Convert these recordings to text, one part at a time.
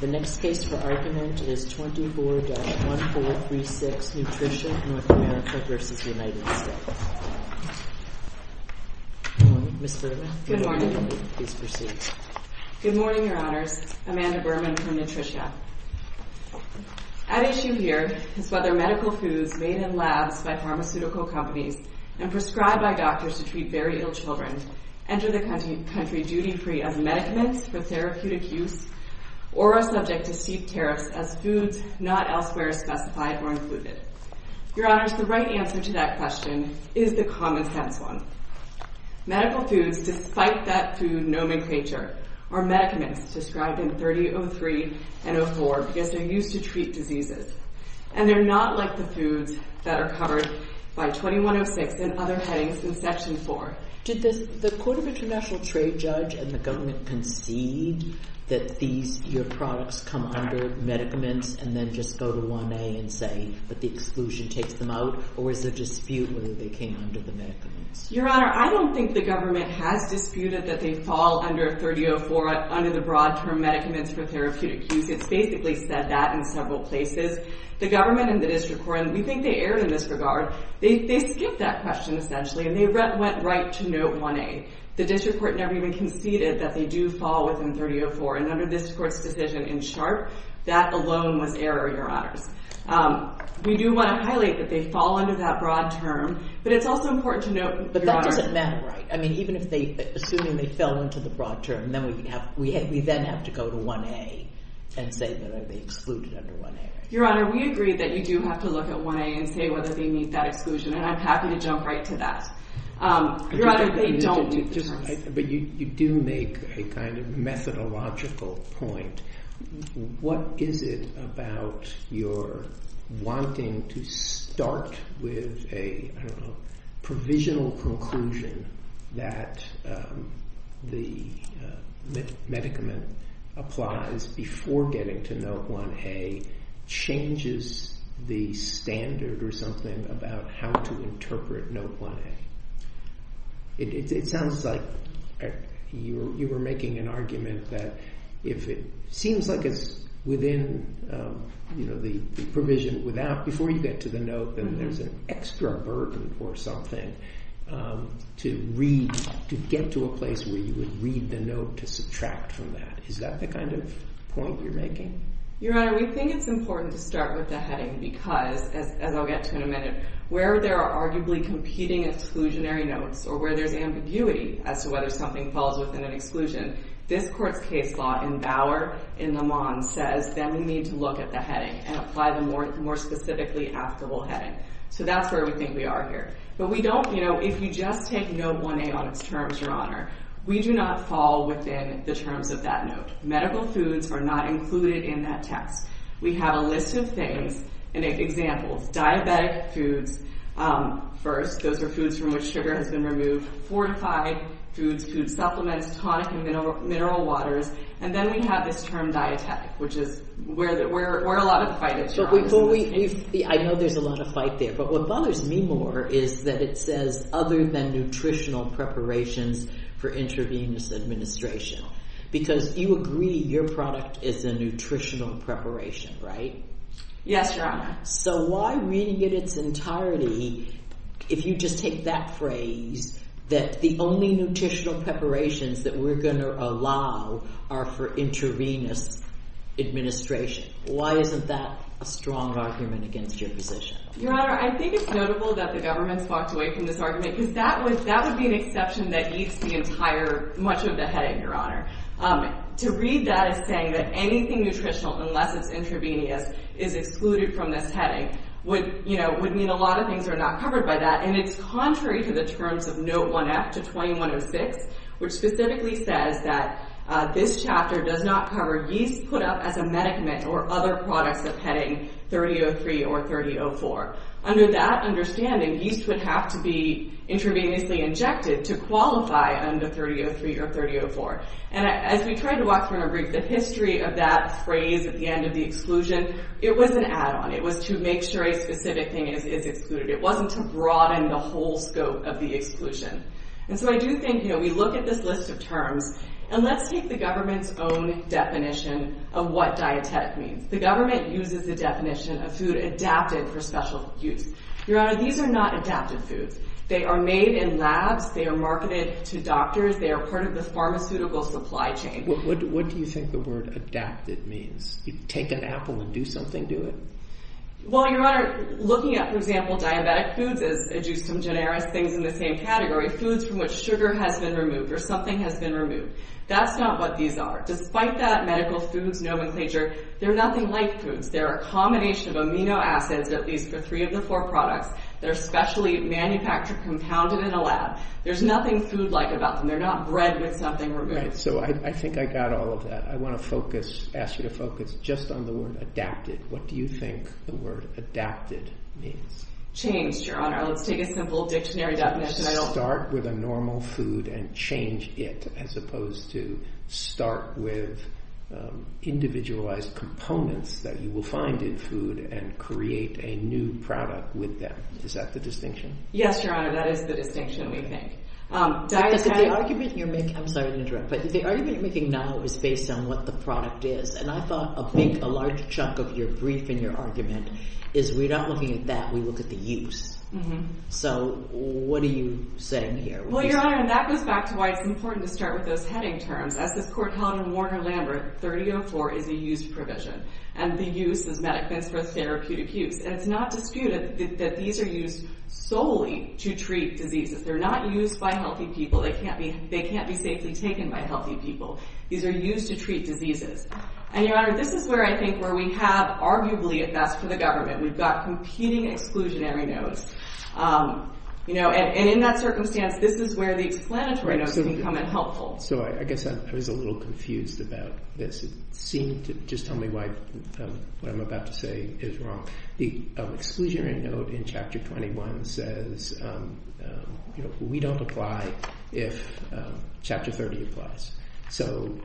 The next case for argument is 24-1436, Nutritia, North America v. United States. Good morning, Ms. Berman. Good morning. Please proceed. Good morning, Your Honors. Amanda Berman from Nutritia. At issue here is whether medical foods made in labs by pharmaceutical companies and prescribed by doctors to treat very ill children enter the country duty-free as medicaments for therapeutic use or are subject to steep tariffs as foods not elsewhere specified or included. Your Honors, the right answer to that question is the common-sense one. Medical foods, despite that food nomenclature, are medicaments, described in 3003 and 004 because they're used to treat diseases. And they're not like the foods that are covered by 2106 and other headings in Section 4. Did the Court of International Trade judge and the government concede that your products come under medicaments and then just go to 1A and say that the exclusion takes them out, or is there dispute whether they came under the medicaments? Your Honor, I don't think the government has disputed that they fall under 3004, under the broad-term medicaments for therapeutic use. It's basically said that in several places. The government and the district court, and we think they erred in this regard, they skipped that question, essentially, and they went right to note 1A. The district court never even conceded that they do fall within 3004, and under this court's decision in Sharpe, that alone was error, Your Honors. We do want to highlight that they fall under that broad term, but it's also important to note, Your Honor... But that doesn't matter, right? I mean, even if they, assuming they fell into the broad term, then we then have to go to 1A and say that they're excluded under 1A. Your Honor, we agree that you do have to look at 1A and say whether they meet that exclusion, and I'm happy to jump right to that. Your Honor, they don't meet the terms. But you do make a kind of methodological point. What is it about your wanting to start with a, I don't know, provisional conclusion that the medicament applies before getting to note 1A changes the standard or something about how to interpret note 1A? It sounds like you were making an argument that if it seems like it's within the provision before you get to the note, then there's an extra burden or something to get to a place where you would read the note to subtract from that. Is that the kind of point you're making? Your Honor, we think it's important to start with the heading because, as I'll get to in a minute, where there are arguably competing exclusionary notes or where there's ambiguity as to whether something falls within an exclusion, this Court's case law in Bauer and Lamont says that we need to look at the heading and apply the more specifically applicable heading. So that's where we think we are here. But we don't, you know, if you just take note 1A on its terms, Your Honor, we do not fall within the terms of that note. Medical foods are not included in that text. We have a list of things and examples. Diabetic foods first. Those are foods from which sugar has been removed. Fortified foods, food supplements, tonic and mineral waters. And then we have this term dietetic, which is where a lot of the fight is, Your Honor. I know there's a lot of fight there, but what bothers me more is that it says other than nutritional preparations for intravenous administration because you agree your product is a nutritional preparation, right? Yes, Your Honor. So why, reading it in its entirety, if you just take that phrase that the only nutritional preparations that we're going to allow are for intravenous administration, why isn't that a strong argument against your position? Your Honor, I think it's notable that the government's walked away from this argument because that would be an exception that eats much of the heading, Your Honor. To read that as saying that anything nutritional unless it's intravenous is excluded from this heading would mean a lot of things are not covered by that. And it's contrary to the terms of note 1F to 2106, which specifically says that this chapter does not cover yeast put up as a medicament or other products of heading 3003 or 3004. Under that understanding, yeast would have to be intravenously injected to qualify under 3003 or 3004. And as we tried to walk through in a brief, the history of that phrase at the end of the exclusion, it was an add-on. It was to make sure a specific thing is excluded. It wasn't to broaden the whole scope of the exclusion. And so I do think, you know, we look at this list of terms, and let's take the government's own definition of what dietetic means. The government uses the definition of food adapted for special use. Your Honor, these are not adapted foods. They are made in labs. They are marketed to doctors. They are part of the pharmaceutical supply chain. What do you think the word adapted means? You take an apple and do something to it? Well, Your Honor, looking at, for example, diabetic foods as a juice from Generis, things in the same category, foods from which sugar has been removed or something has been removed. That's not what these are. Despite that medical foods nomenclature, they're nothing like foods. They're a combination of amino acids, at least for three of the four products, that are specially manufactured, compounded in a lab. There's nothing food-like about them. They're not bred with something removed. So I think I got all of that. I want to ask you to focus just on the word adapted. What do you think the word adapted means? Changed, Your Honor. Let's take a simple dictionary definition. Start with a normal food and change it as opposed to start with individualized components that you will find in food and create a new product with them. Is that the distinction? Yes, Your Honor, that is the distinction, we think. The argument you're making now is based on what the product is. And I thought a big, a large chunk of your brief and your argument is we're not looking at that, we look at the use. So what are you saying here? Well, Your Honor, and that goes back to why it's important to start with those heading terms. As the court held in Warner-Lambert, 3004 is a used provision. And the use is medical, that's for therapeutic use. And it's not disputed that these are used solely to treat diseases. They're not used by healthy people. They can't be safely taken by healthy people. These are used to treat diseases. And Your Honor, this is where I think where we have arguably, if that's for the government, we've got competing exclusionary notes. And in that circumstance, this is where the explanatory notes can come in helpful. So I guess I was a little confused about this. It seemed to, just tell me why what I'm about to say is wrong. The exclusionary note in Chapter 21 says we don't apply if Chapter 30 applies. So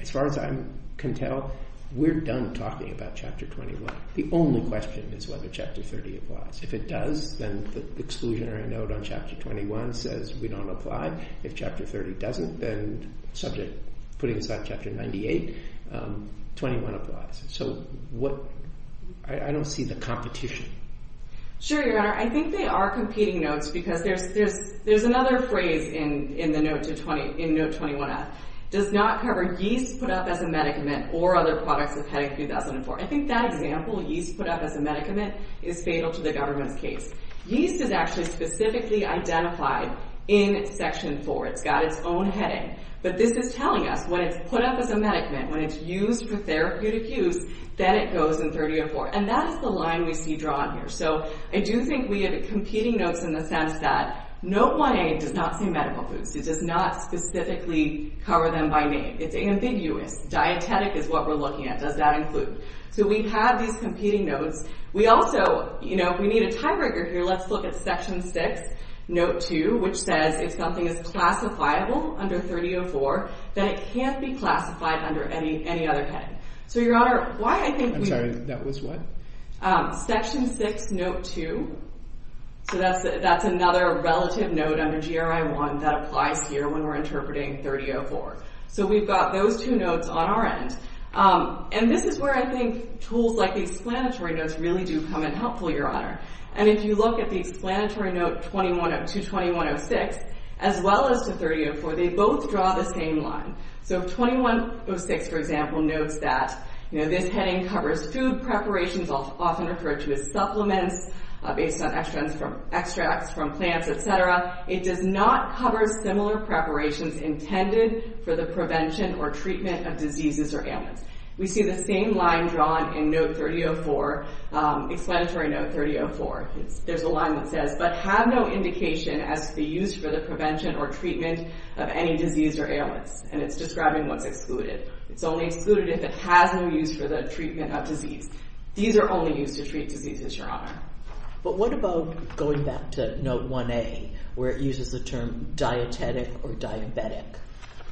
as far as I can tell, we're done talking about Chapter 21. The only question is whether Chapter 30 applies. If it does, then the exclusionary note on Chapter 21 says we don't apply. If Chapter 30 doesn't, then subject, putting aside Chapter 98, 21 applies. So I don't see the competition. Sure, Your Honor. I think they are competing notes because there's another phrase in Note 21F, does not cover yeast put up as a medicament or other products of heading 2004. I think that example, yeast put up as a medicament, is fatal to the government's case. Yeast is actually specifically identified in Section 4. It's got its own heading. But this is telling us when it's put up as a medicament, when it's used for therapeutic use, then it goes in 3004. And that is the line we see drawn here. So I do think we have competing notes in the sense that Note 1A does not say medical foods. It does not specifically cover them by name. It's ambiguous. Dietetic is what we're looking at. Does that include? So we have these competing notes. We also, you know, if we need a tiebreaker here, let's look at Section 6, Note 2, which says if something is classifiable under 3004, then it can't be classified under any other heading. So, Your Honor, why I think we... I'm sorry. That was what? Section 6, Note 2. So that's another relative note under GRI 1 that applies here when we're interpreting 3004. So we've got those two notes on our end. And this is where I think tools like the explanatory notes really do come in helpful, Your Honor. And if you look at the explanatory note to 2106, as well as to 3004, they both draw the same line. So 2106, for example, notes that, you know, this heading covers food preparations, often referred to as supplements, based on extracts from plants, et cetera. It does not cover similar preparations intended for the prevention or treatment of diseases or ailments. We see the same line drawn in Note 3004, explanatory Note 3004. There's a line that says, but have no indication as to be used for the prevention or treatment of any disease or ailments. And it's describing what's excluded. It's only excluded if it has no use for the treatment of disease. These are only used to treat diseases, Your Honor. But what about going back to Note 1A, where it uses the term dietetic or diabetic?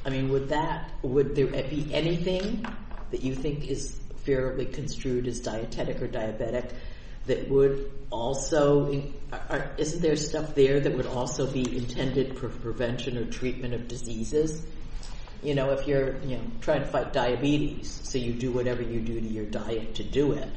I mean, would that... would there be anything that you think is fairly construed as dietetic or diabetic that would also... Is there stuff there that would also be intended for prevention or treatment of diseases? You know, if you're trying to fight diabetes, so you do whatever you do to your diet to do it,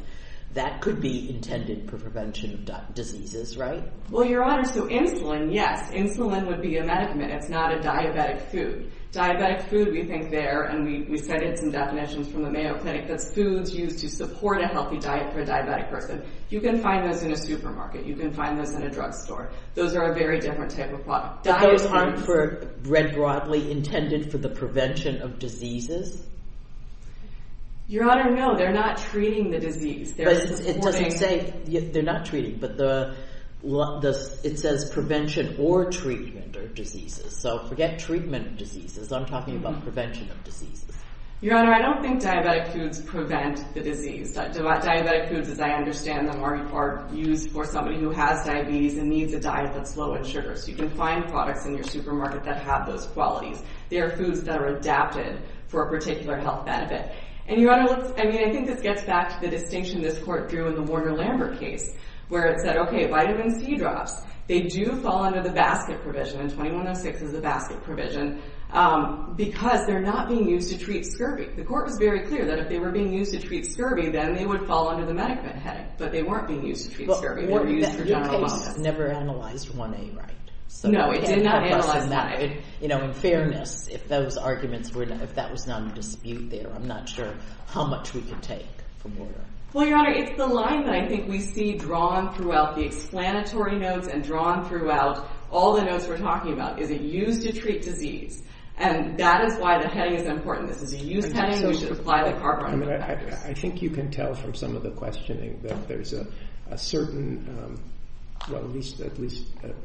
that could be intended for prevention of diseases, right? Well, Your Honor, so insulin, yes. Insulin would be a medicament. It's not a diabetic food. Diabetic food, we think there, and we cited some definitions from the Mayo Clinic, that's foods used to support a healthy diet for a diabetic person. You can find those in a supermarket. You can find those in a drugstore. Those are a very different type of product. But those aren't, read broadly, intended for the prevention of diseases? Your Honor, no, they're not treating the disease. It doesn't say... they're not treating, but it says prevention or treatment of diseases. So forget treatment of diseases. I'm talking about prevention of diseases. Your Honor, I don't think diabetic foods prevent the disease. Diabetic foods, as I understand them, are used for somebody who has diabetes and needs a diet that's low in sugar. So you can find products in your supermarket that have those qualities. They are foods that are adapted for a particular health benefit. And, Your Honor, I mean, I think this gets back to the distinction this court threw in the Warner-Lambert case, where it said, okay, vitamin C drops, they do fall under the basket provision, and 2106 is the basket provision, because they're not being used to treat scurvy. The court was very clear that if they were being used to treat scurvy, then they would fall under the MediClint headache, but they weren't being used to treat scurvy. The new case never analyzed 1A right. No, it did not analyze 1A. In fairness, if those arguments were... if that was not in dispute there, I'm not sure how much we could take from Warner. Well, Your Honor, it's the line that I think we see drawn throughout the explanatory notes and drawn throughout all the notes we're talking about, is it used to treat disease. And that is why the headache is important. This is a used headache. We should apply the part-time practice. I think you can tell from some of the questioning that there's a certain... well, at least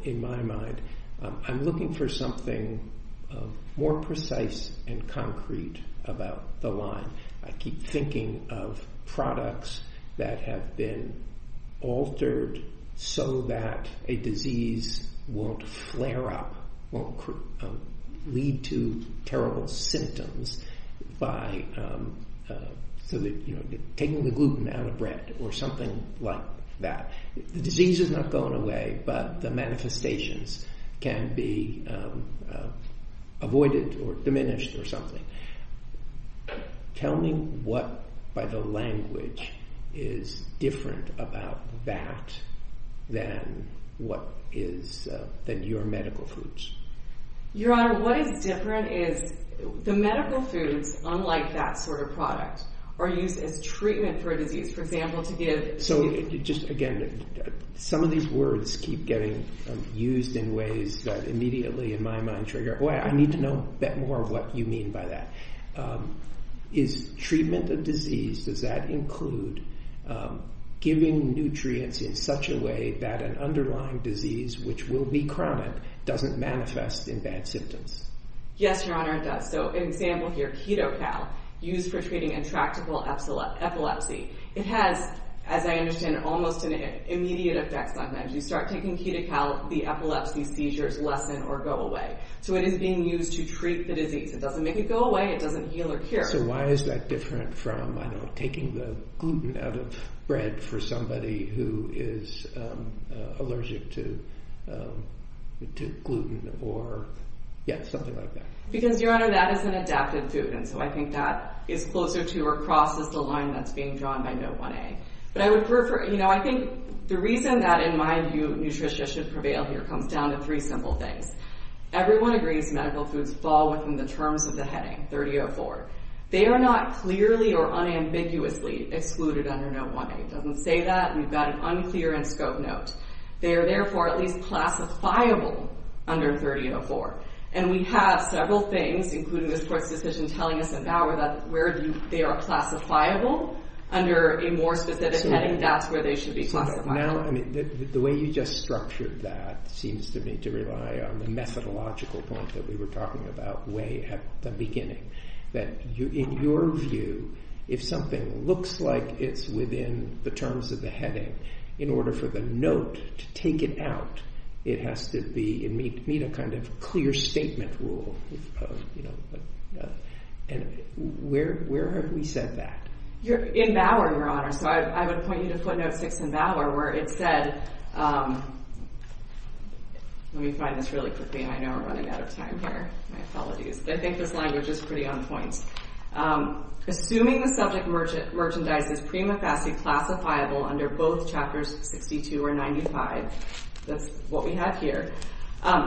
in my mind, I'm looking for something more precise and concrete about the line. I keep thinking of products that have been altered so that a disease won't flare up, won't lead to terrible symptoms by taking the gluten out of bread or something like that. The disease is not going away, but the manifestations can be avoided or diminished or something. Tell me what, by the language, is different about that than your medical foods. Your Honor, what is different is the medical foods, unlike that sort of product, are used as treatment for a disease. For example, to give... So, just again, some of these words keep getting used in ways that immediately in my mind trigger, boy, I need to know more of what you mean by that. Is treatment of disease, does that include giving nutrients in such a way that an underlying disease, which will be chronic, doesn't manifest in bad symptoms? Yes, Your Honor, it does. So, an example here, KetoCal, used for treating intractable epilepsy. It has, as I understand, almost an immediate effect sometimes. You start taking KetoCal, the epilepsy seizures lessen or go away. So it is being used to treat the disease. It doesn't make it go away. It doesn't heal or cure. So why is that different from, I don't know, taking the gluten out of bread for somebody who is allergic to gluten or something like that? Because, Your Honor, that is an adapted food, and so I think that is closer to or crosses the line that's being drawn by Note 1A. But I would prefer... I think the reason that, in my view, nutrition should prevail here comes down to three simple things. Everyone agrees medical foods fall within the terms of the heading, 30.04. They are not clearly or unambiguously excluded under Note 1A. It doesn't say that. We've got an unclear in-scope note. They are, therefore, at least classifiable under 30.04. And we have several things, including this Court's decision telling us at Bauer that where they are classifiable under a more specific heading, that's where they should be classified. Now, I mean, the way you just structured that seems to me to rely on the methodological point that we were talking about way at the beginning, that in your view, if something looks like it's within the terms of the heading, in order for the note to take it out, it has to meet a kind of clear statement rule. Where have we said that? In Bauer, Your Honor. So I would point you to footnote 6 in Bauer where it said... Let me find this really quickly. I know we're running out of time here. My apologies. I think this language is pretty on point. Assuming the subject merchandise is prima facie classifiable under both Chapters 62 or 95, that's what we have here,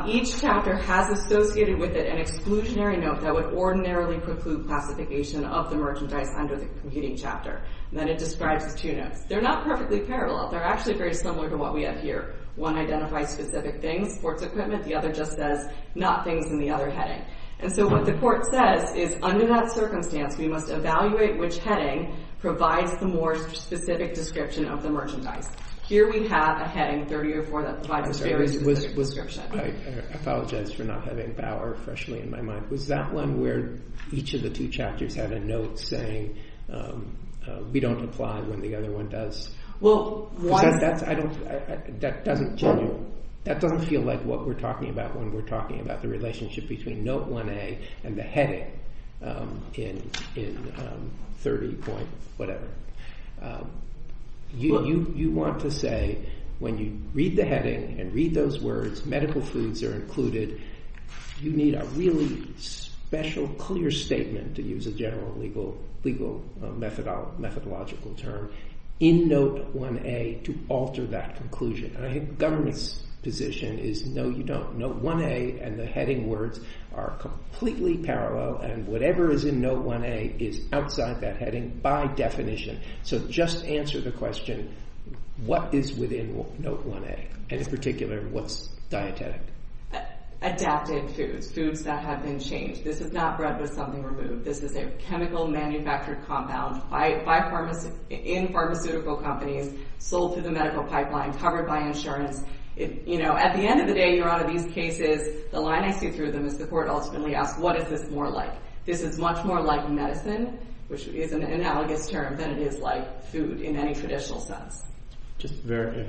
each chapter has associated with it an exclusionary note that would ordinarily preclude classification of the merchandise under the competing chapter. And then it describes the two notes. They're not perfectly parallel. They're actually very similar to what we have here. One identifies specific things, sports equipment, the other just says not things in the other heading. And so what the court says is under that circumstance we must evaluate which heading provides the more specific description of the merchandise. Here we have a heading, 30 or 4, that provides a very specific description. I apologize for not having Bauer freshly in my mind. Was that one where each of the two chapters had a note saying we don't apply when the other one does? That doesn't feel like what we're talking about when we're talking about the relationship between Note 1A and the heading in 30 point whatever. You want to say when you read the heading and read those words, medical foods are included, you need a really special clear statement to use a general legal methodological term in Note 1A to alter that conclusion. I think government's position is no, you don't. Note 1A and the heading words are completely parallel and whatever is in Note 1A is outside that heading by definition. So just answer the question, what is within Note 1A? And in particular, what's dietetic? Adapted foods, foods that have been changed. This is not bread with something removed. This is a chemical manufactured compound in pharmaceutical companies, sold through the medical pipeline, covered by insurance. At the end of the day, you're out of these cases. The line I see through them is the court ultimately asks, what is this more like? This is much more like medicine, which is an analogous term, than it is like food in any traditional sense. Just very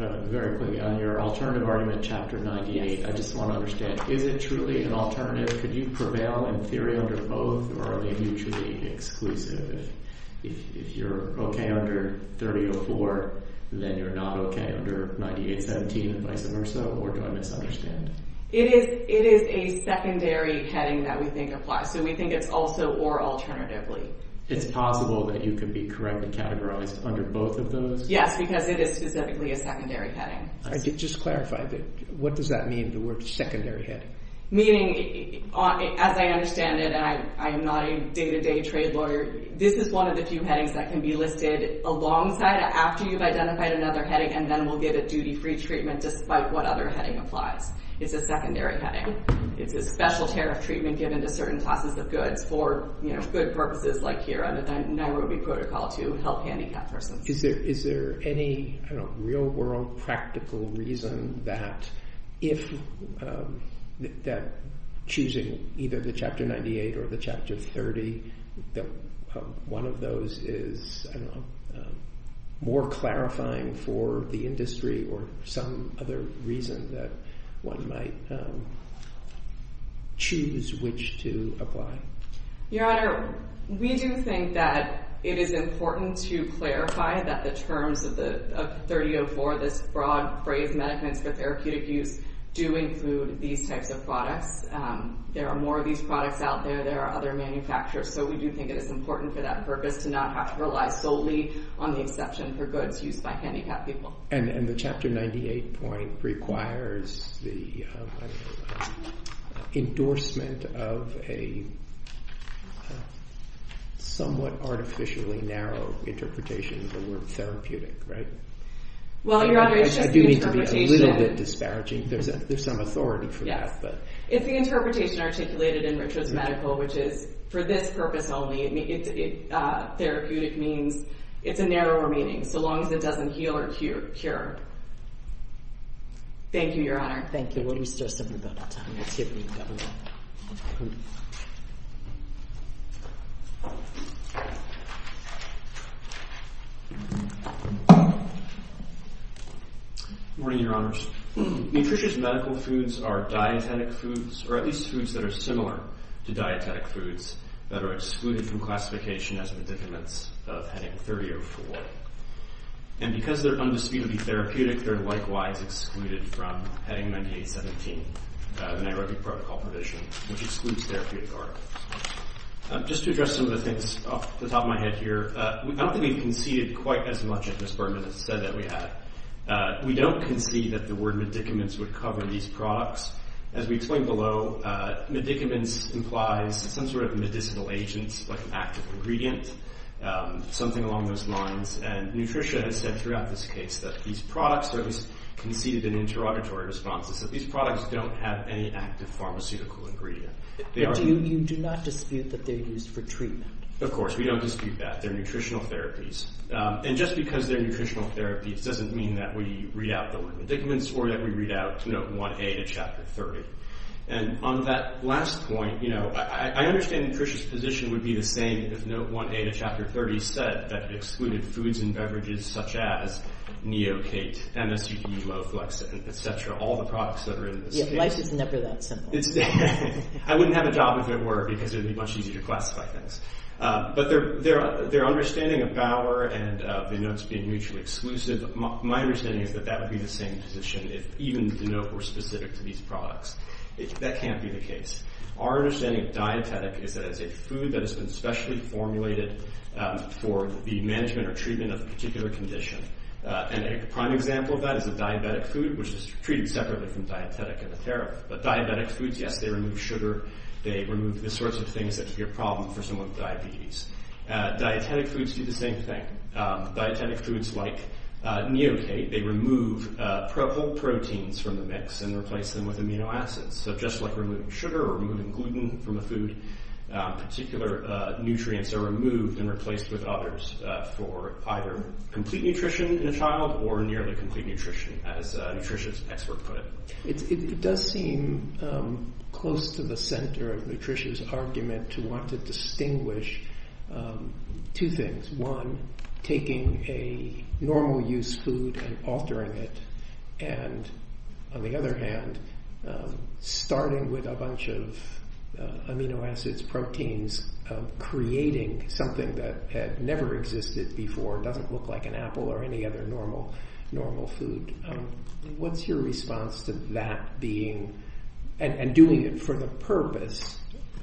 quickly, on your alternative argument, Chapter 98, I just want to understand, is it truly an alternative? Could you prevail in theory under both, or are they mutually exclusive? If you're okay under 30 to 4, then you're not okay under 98, 17, and vice versa, or do I misunderstand? It is a secondary heading that we think applies, so we think it's also or alternatively. It's possible that you could be correctly categorized under both of those? Yes, because it is specifically a secondary heading. Just clarify, what does that mean, the word secondary heading? Meaning, as I understand it, and I am not a day-to-day trade lawyer, this is one of the few headings that can be listed alongside after you've identified another heading, and then we'll give it duty-free treatment despite what other heading applies. It's a secondary heading. It's a special tariff treatment given to certain classes of goods for good purposes like here, under the Nairobi Protocol to help handicapped persons. Is there any real-world practical reason that choosing either the Chapter 98 or the Chapter 30, one of those is more clarifying for the industry or some other reason that one might choose which to apply? Your Honor, we do think that it is important to clarify that the terms of 30.04, this broad phrase, Medicines for Therapeutic Use, do include these types of products. There are more of these products out there. There are other manufacturers. So we do think it is important for that purpose to not have to rely solely on the exception for goods used by handicapped people. And the Chapter 98 point requires the endorsement of a somewhat artificially narrow interpretation of the word therapeutic, right? Well, Your Honor, it's just the interpretation. I do need to be a little bit disparaging. There's some authority for that. It's the interpretation articulated in Richards Medical, which is for this purpose only. Therapeutic means it's a narrower meaning so long as it doesn't heal or cure. Thank you, Your Honor. Thank you. Why don't we start something about the time? Let's hear from the Governor. Good morning, Your Honors. Nutritious medical foods are dietetic foods, or at least foods that are similar to dietetic foods that are excluded from classification as medicaments of heading 30.04. And because they're undisputedly therapeutic, they're likewise excluded from heading 98.17, the NIAID protocol provision, which excludes therapeutic articles. Just to address some of the things off the top of my head here, I don't think we've conceded quite as much as Ms. Berman has said that we have. We don't concede that the word medicaments would cover these products. As we explained below, medicaments implies some sort of medicinal agents, like an active ingredient, something along those lines. And Nutritious has said throughout this case that these products, or at least conceded in interrogatory responses, that these products don't have any active pharmaceutical ingredient. You do not dispute that they're used for treatment? Of course, we don't dispute that. They're nutritional therapies. And just because they're nutritional therapies doesn't mean that we read out the word medicaments or that we read out Note 1A to Chapter 30. And on that last point, I understand Nutritious' position would be the same if Note 1A to Chapter 30 said that it excluded foods and beverages such as Neocate, MSUE, Loflexin, et cetera, all the products that are in this case. Yeah, life is never that simple. I wouldn't have a job if it were because it would be much easier to classify things. But their understanding of Bauer and the notes being mutually exclusive, my understanding is that that would be the same position if even the note were specific to these products. That can't be the case. Our understanding of dietetic is that it's a food that has been specially formulated for the management or treatment of a particular condition. And a prime example of that is a diabetic food, which is treated separately from dietetic in the therapy. But diabetic foods, yes, they remove sugar. They remove the sorts of things that could be a problem for someone with diabetes. Dietetic foods do the same thing. Dietetic foods like Neocate, they remove whole proteins from the mix and replace them with amino acids. So just like removing sugar or removing gluten from a food, particular nutrients are removed and replaced with others for either complete nutrition in a child or nearly complete nutrition, as a nutrition expert put it. It does seem close to the center of nutrition's argument to want to distinguish two things. One, taking a normal use food and altering it. And on the other hand, starting with a bunch of amino acids, proteins, creating something that had never existed before, doesn't look like an apple or any other normal food. What's your response to that being, and doing it for the purpose,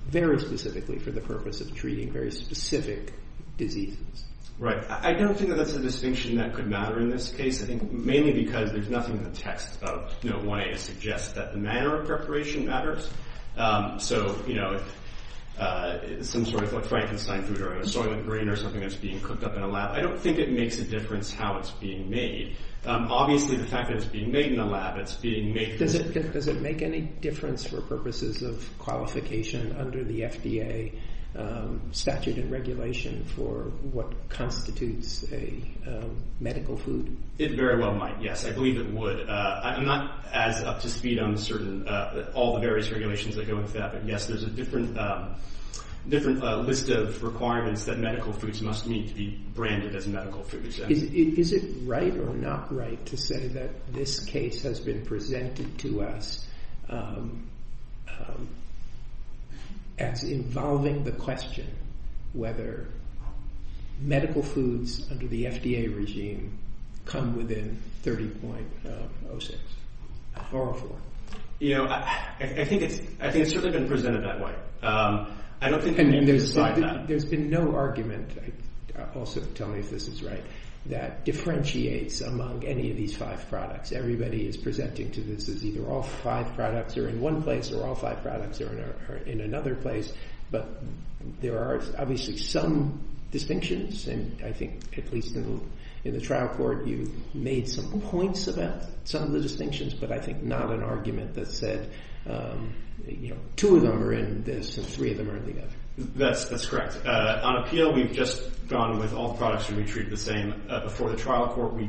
very specifically for the purpose of treating very specific diseases? Right, I don't think that that's a distinction that could matter in this case. I think mainly because there's nothing in the text about wanting to suggest that the manner of preparation matters. So, you know, some sort of like Frankenstein food or a soil and grain or something that's being cooked up in a lab, I don't think it makes a difference how it's being made. Obviously the fact that it's being made in a lab, it's being made... Does it make any difference for purposes of qualification under the FDA statute and regulation for what constitutes a medical food? It very well might, yes. I believe it would. I'm not as up to speed on certain, all the various regulations that go with that, but yes, there's a different list of requirements that medical foods must meet to be branded as medical foods. Is it right or not right to say that this case has been presented to us as involving the question whether medical foods under the FDA regime come within 30.06 or 0.04? You know, I think it's certainly been presented that way. There's been no argument, also tell me if this is right, that differentiates among any of these five products. Everybody is presenting to this as either all five products are in one place or all five products are in another place, but there are obviously some distinctions and I think at least in the trial court you made some points about some of the distinctions, but I think not an argument that said, you know, two of them are in this and three of them are in the other. That's correct. On appeal, we've just gone with all the products and we treated the same. Before the trial court, we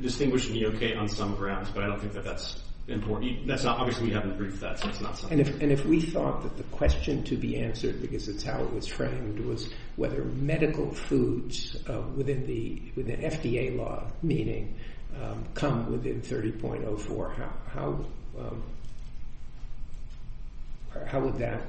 distinguished the EOK on some grounds, but I don't think that that's important. Obviously, we haven't briefed that, so it's not something. And if we thought that the question to be answered, because it's how it was framed, was whether medical foods within the FDA law, meaning, come within 30.04, how would that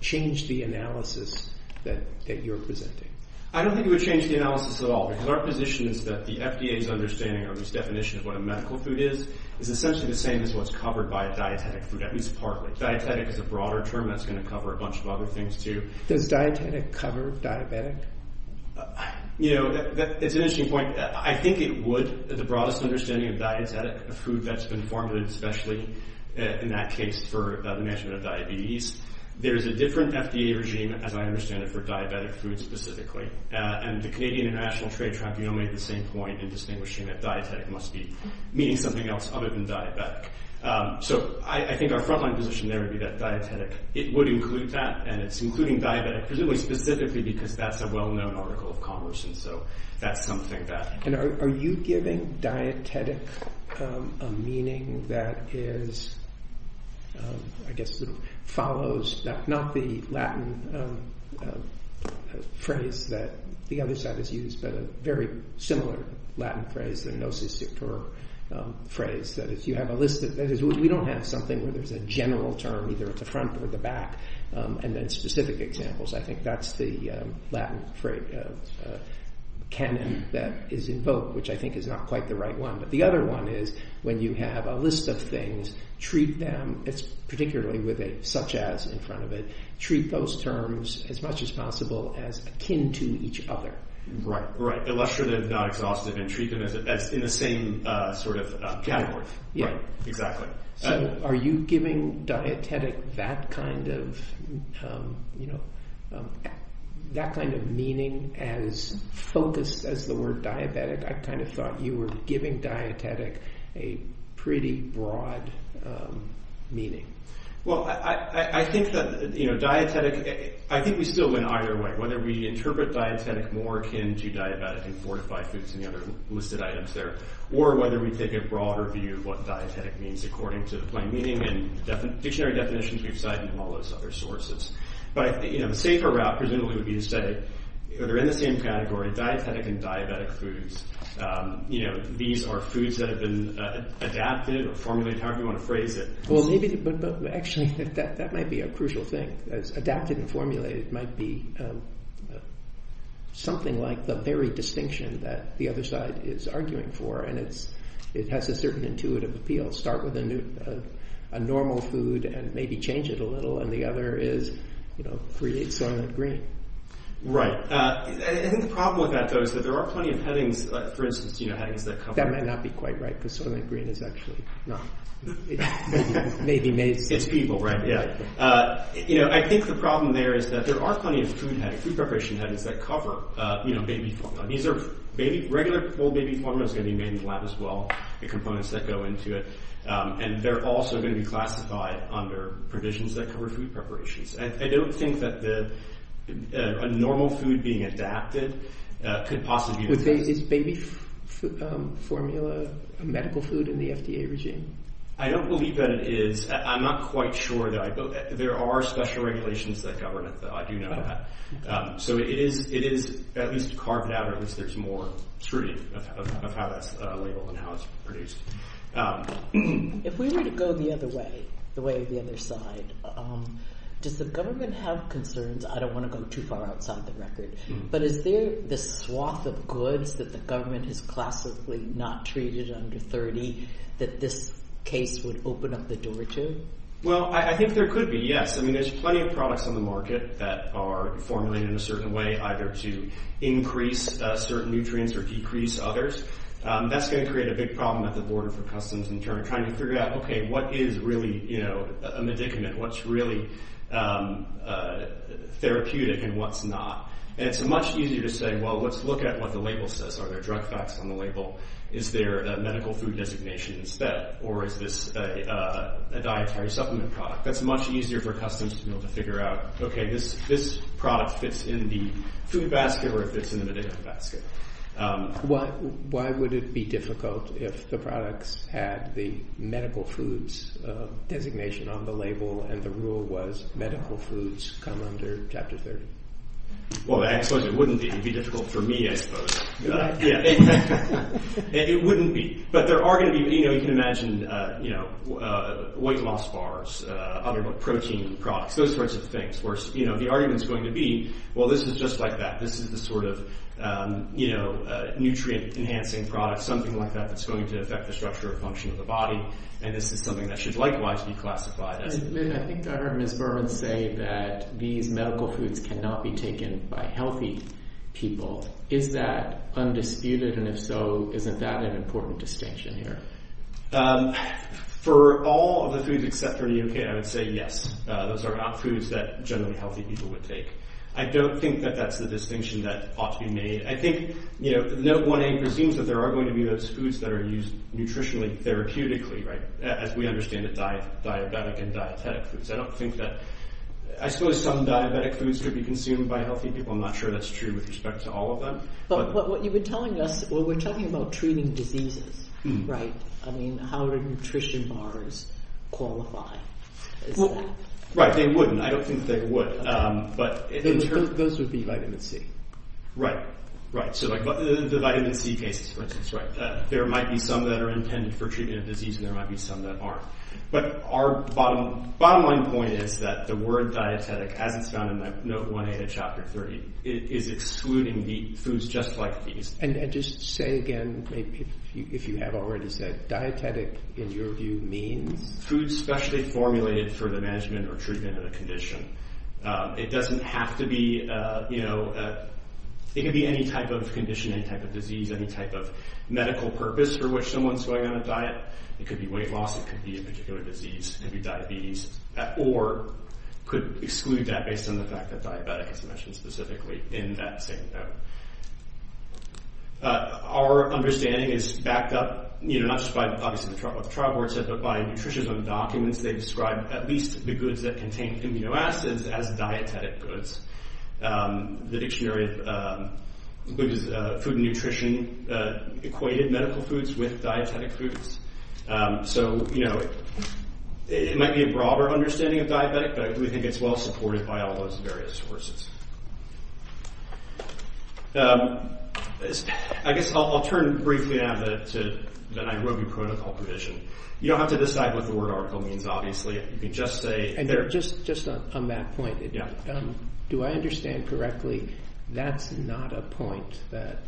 change the analysis that you're presenting? I don't think it would change the analysis at all, because our position is that the FDA's understanding or its definition of what a medical food is, is essentially the same as what's covered by a dietetic food, at least partly. Dietetic is a broader term that's going to cover a bunch of other things, too. Does dietetic cover diabetic? You know, it's an interesting point. I think it would. The broadest understanding of dietetic, of food that's been formulated, especially in that case for the management of diabetes, there's a different FDA regime, as I understand it, for diabetic food specifically. And the Canadian International Trade Tribunal made the same point in distinguishing that dietetic must be meaning something else other than diabetic. So I think our frontline position there would be that dietetic, it would include that, and it's including diabetic, presumably specifically because that's a well-known article of commerce, and so that's something that... And are you giving dietetic a meaning that is, I guess, sort of follows, not the Latin phrase that the other side has used, but a very similar Latin phrase, the nociceptor phrase, that is, you have a list, that is, we don't have something where there's a general term, either it's a front or the back, and then specific examples, I think that's the Latin canon that is invoked, which I think is not quite the right one. But the other one is, when you have a list of things, treat them, particularly with a such as in front of it, treat those terms as much as possible as akin to each other. Right, illustrative, not exhaustive, and treat them as in the same sort of category. Yeah. Exactly. So, are you giving dietetic that kind of, you know, that kind of meaning as focused as the word diabetic? I kind of thought you were giving dietetic a pretty broad meaning. Well, I think that, you know, dietetic, I think we still win either way, whether we interpret dietetic more akin to diabetic and fortified foods and the other listed items there, or whether we take a broader view of what dietetic means according to the plain meaning and dictionary definitions we've cited and all those other sources. But, you know, the safer route presumably would be to say, they're in the same category, dietetic and diabetic foods. You know, these are foods that have been adapted or formulated, however you want to phrase it. Well, maybe, actually, that might be a crucial thing. Adapted and formulated might be something like the very distinction that the other side is arguing for, and it has a certain intuitive appeal. Start with a normal food and maybe change it a little, and the other is, you know, create soylent green. Right. I think the problem with that, though, is that there are plenty of headings, for instance, you know, headings that cover... That might not be quite right, because soylent green is actually not... It's people, right? Yeah. You know, I think the problem there is that there are plenty of food headings, food preparation headings, that cover, you know, baby formula. These are regular baby formulas that are going to be made in the lab as well, the components that go into it, and they're also going to be classified under provisions that cover food preparations. I don't think that a normal food being adapted could possibly be... Is baby formula a medical food in the FDA regime? I don't believe that it is. I'm not quite sure that I... There are special regulations that govern it, though. I do know that. So it is at least carved out that there's more scrutiny of how that's labeled and how it's produced. If we were to go the other way, the way the other side, does the government have concerns? I don't want to go too far outside the record, but is there this swath of goods that the government has classically not treated under 30 that this case would open up the door to? Well, I think there could be, yes. I mean, there's plenty of products on the market that are formulated in a certain way, either to increase certain nutrients or decrease others. That's going to create a big problem at the border for Customs in trying to figure out, okay, what is really a medicament? What's really therapeutic and what's not? And it's much easier to say, well, let's look at what the label says. Are there drug facts on the label? Is there a medical food designation instead? Or is this a dietary supplement product? That's much easier for Customs to be able to figure out, okay, this product fits in the food basket or it fits in the medical basket. Why would it be difficult if the products had the medical foods designation on the label and the rule was medical foods come under Chapter 30? Well, actually, it wouldn't be. It would be difficult for me, I suppose. It wouldn't be. But there are going to be, you know, you can imagine, you know, weight loss bars, other protein products, those sorts of things where, you know, the argument is going to be, well, this is just like that. This is the sort of, you know, nutrient-enhancing product, something like that that's going to affect the structure or function of the body. And this is something that should likewise be classified as... I think I heard Ms. Berman say that these medical foods cannot be taken by healthy people. Is that undisputed? And if so, isn't that an important distinction here? For all of the foods except for the UK, I would say yes. Those are not foods that generally healthy people would take. I don't think that that's the distinction that ought to be made. I think, you know, the Note 1A presumes that there are going to be those foods that are used nutritionally, therapeutically, right, as we understand it, diabetic and dietetic foods. I don't think that... I suppose some diabetic foods could be consumed by healthy people. I'm not sure that's true with respect to all of them. But what you were telling us... well, we're talking about treating diseases, right? I mean, how do nutrition bars qualify? Well, right, they wouldn't. I don't think they would, but... Those would be vitamin C. Right, right. So the vitamin C cases, for instance, right. There might be some that are intended for treatment of disease and there might be some that aren't. But our bottom line point is that the word dietetic, as it's found in the Note 1A of Chapter 30, is excluding the foods just like these. And just say again, if you have already said dietetic, in your view, means? Foods specially formulated for the management or treatment of a condition. It doesn't have to be, you know... It can be any type of condition, any type of disease, any type of medical purpose for which someone's going on a diet. It could be weight loss, it could be a particular disease, it could be diabetes, or could exclude that based on the fact that diabetic is mentioned specifically in that same note. Our understanding is backed up, you know, not just by what the trial board said, but by nutritionism documents. They describe at least the goods that contain amino acids as dietetic goods. The dictionary of food and nutrition equated medical foods with dietetic foods. So, you know, it might be a broader understanding of diabetic, but we think it's well supported by all those various sources. I guess I'll turn briefly now to the Nairobi Protocol provision. You don't have to decide what the word article means, obviously. You can just say... And just on that point, do I understand correctly that's not a point that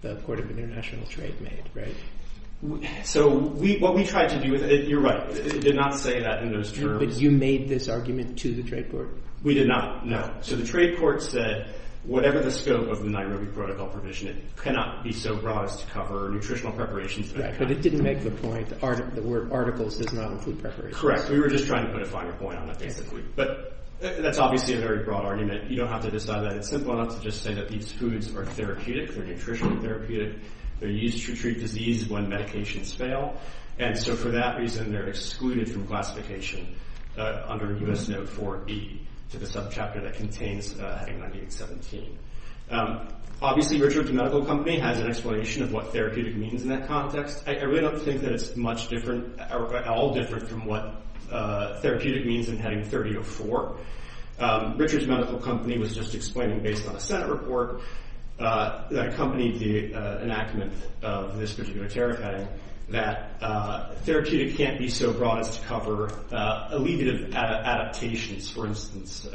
the Court of International Trade made, right? So, what we tried to do with it... You're right, it did not say that in those terms. But you made this argument to the trade court? We did not, no. So the trade court said that whatever the scope of the Nairobi Protocol provision, it cannot be so broad as to cover nutritional preparations... Right, but it didn't make the point that the word articles does not include preparations. Correct. We were just trying to put a finer point on that, basically. But that's obviously a very broad argument. You don't have to decide that. It's simple enough to just say that these foods are therapeutic, they're nutritionally therapeutic, they're used to treat disease when medications fail. And so, for that reason, they're excluded from classification under U.S. Note 4b to the subchapter that contains Heading 1917. Obviously, Richard's Medical Company has an explanation of what therapeutic means in that context. I really don't think that it's much different, or at all different, from what therapeutic means in Heading 3004. Richard's Medical Company was just explaining, based on a Senate report that accompanied the enactment of this particular tariff heading, that therapeutic can't be so broad as to cover allegative adaptations. For instance,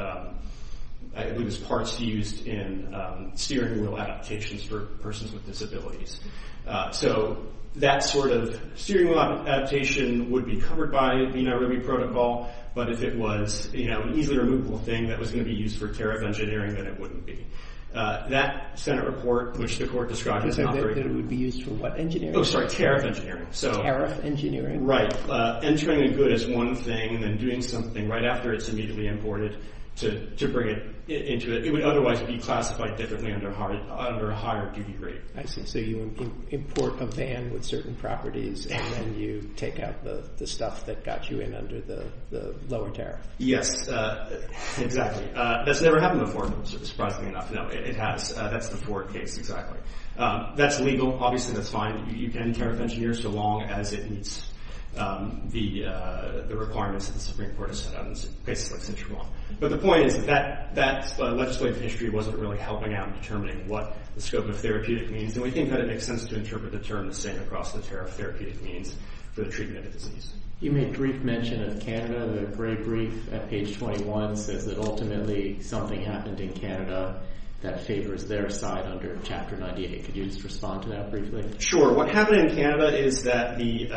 I believe it's parts used in steering wheel adaptations for persons with disabilities. So, that sort of steering wheel adaptation would be covered by the NIRB protocol, but if it was an easily-removable thing that was going to be used for tariff engineering, then it wouldn't be. That Senate report, which the Court described, is not very good. It would be used for what engineering? Oh, sorry, tariff engineering. Tariff engineering. Right. Entering a good is one thing, and then doing something right after it's immediately imported to bring it into it. It would otherwise be classified differently under a higher duty rate. I see. So, you import a van with certain properties, and then you take out the stuff that got you in under the lower tariff. Yes. Exactly. That's never happened before, surprisingly enough. No, it has. That's the Ford case, exactly. That's legal. Obviously, that's fine. You can tariff engineer so long as it meets the requirements of the tariff engineering court of Staten Island and places like St. Germain. But the point is that legislative history wasn't really helping out in determining what the scope of therapeutic means, and we think that it makes sense to interpret the term the same across the tariff therapeutic means for the treatment of disease. You made brief mention of Canada. The Gray Brief at page 21 says that ultimately something happened in Canada that favors their side under Chapter 98. Could you just respond to that briefly? Sure. What happened in Canada is that the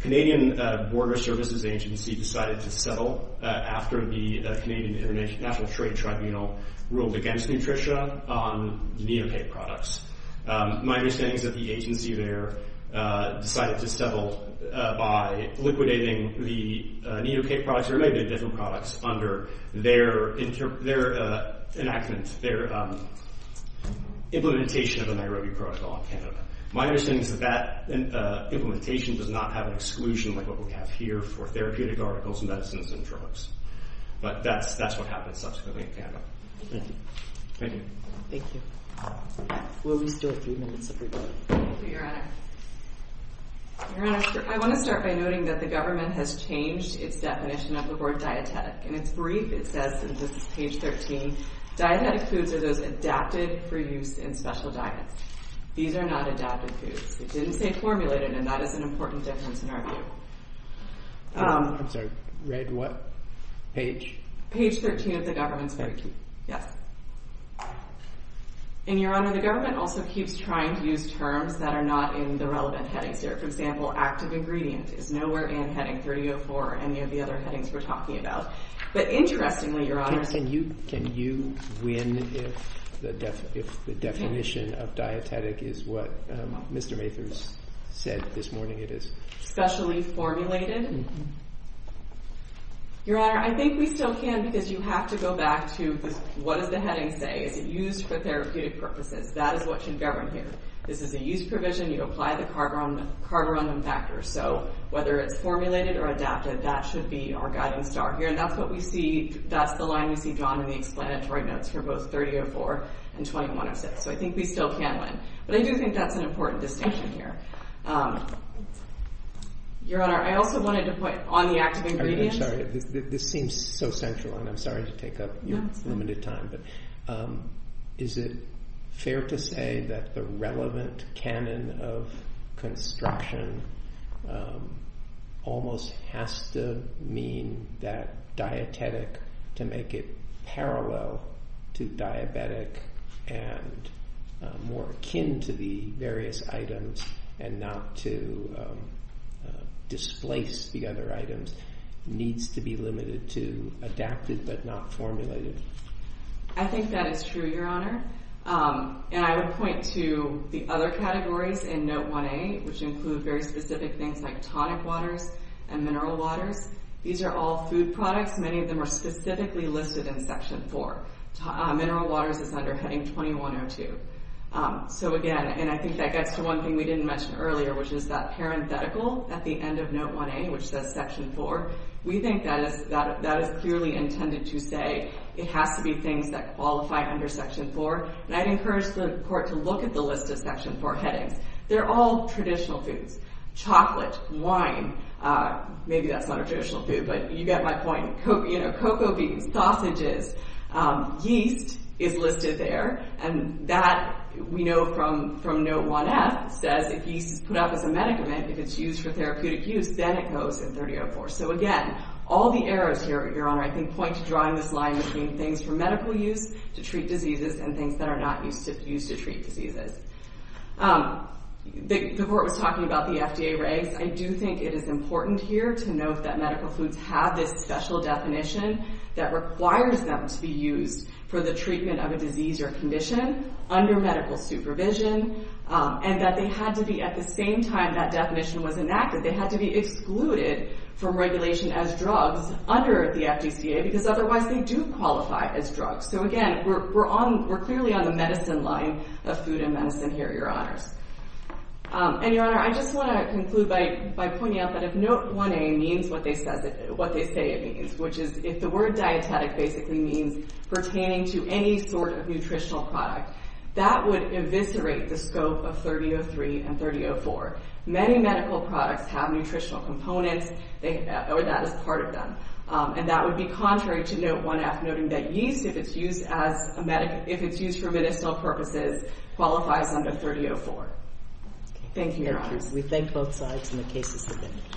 Canadian Border Services Agency decided to settle after the Canadian International Trade Tribunal ruled against Nutritia on neocake products. My understanding is that the agency there decided to settle by liquidating the neocake products or maybe different products under their enactment, their implementation of the Nairobi Protocol in Canada. My understanding is that that implementation does not have an exclusion like what we have here for therapeutic articles, medicines, and But that's what happened subsequently in Canada. Thank you. Thank you. We'll be still at three minutes everybody. Thank you, Your Honor. Your Honor, I want to start by noting that the government has changed its definition of the word dietetic. In its brief it says, and this is page 13, dietetic foods are those adapted for use in special diets. These are not adapted foods. It didn't say formulated, and that is an important difference in our view. I'm sorry, read what page? Page 13 of the government's brief. Thank you. Yes. And Your Honor, the government also keeps trying to use terms that are not in the relevant headings there. For example, active ingredient is nowhere in heading 30.04 or any of the other headings we're talking about. But interestingly, Your Honor... Can you win if the definition of dietetic is what Mr. Mathers said this morning it is? Specially formulated? Your Honor, I think we still can because you have to go back to what does the heading say? Is it used for therapeutic purposes? That is what you govern here. This is a used provision. You apply the carborundum factor. So whether it's formulated or adapted, that should be our guiding star here. And that's what we see. That's the line we see drawn in the explanatory notes for both 30.04 and 21.06. So I think we still can win. But I do think that's an important distinction here. Your Honor, I also wanted to point on the active ingredients. I'm sorry. This seems so central and I'm sorry to take up your limited time. But is it fair to say that the relevant canon of construction almost has to mean that dietetic to make it parallel to diabetic and more akin to the dietetic and not to displace the other items needs to be limited to adapted but not formulated? I think that is true, Your Honor. And I would point to the other categories in Note 1A, which include very specific things like tonic waters and mineral waters. These are all food products. Many of them are specifically listed in Section 4. Mineral waters is under Heading 21.02. So again, and I think that gets to one thing we didn't mention earlier, which is that parenthetical at the end of Note 1A, which says Section 4. We think that is clearly intended to say it has to be things that qualify under Section 4. And I'd encourage the Court to look at the list of Section 4 headings. They're all traditional foods. Chocolate, wine. Maybe that's not a traditional food, but you get my point. Cocoa beans, sausages. Yeast is listed there. And that, we know from Note 1F, says if yeast is put up as a medicament, if it's used for therapeutic use, then it goes in 3004. So again, all the arrows here, Your Honor, I think point to drawing this line between things for medical use to treat diseases and things that are not used to treat diseases. The Court was talking about the FDA regs. I do think it is important here to note that medical foods have this special definition that requires them to be used for the treatment of a disease or condition under medical supervision. And that they had to be, at the same time that definition was enacted, they had to be excluded from regulation as drugs under the FDCA, because otherwise they do qualify as drugs. So again, we're clearly on the medicine line of food and medicine here, Your Honors. And Your Honor, I just want to conclude by pointing out that if Note 1A means what they say it means, which is if the word dietetic basically means pertaining to any sort of nutritional product, that would eviscerate the scope of 3003 and 3004. Many medical products have nutritional components, or that is part of them. And that would be contrary to Note 1F, noting that yeast, if it's used for medicinal purposes, qualifies under 3004. Thank you, Your Honor. We thank both sides, and the case is submitted.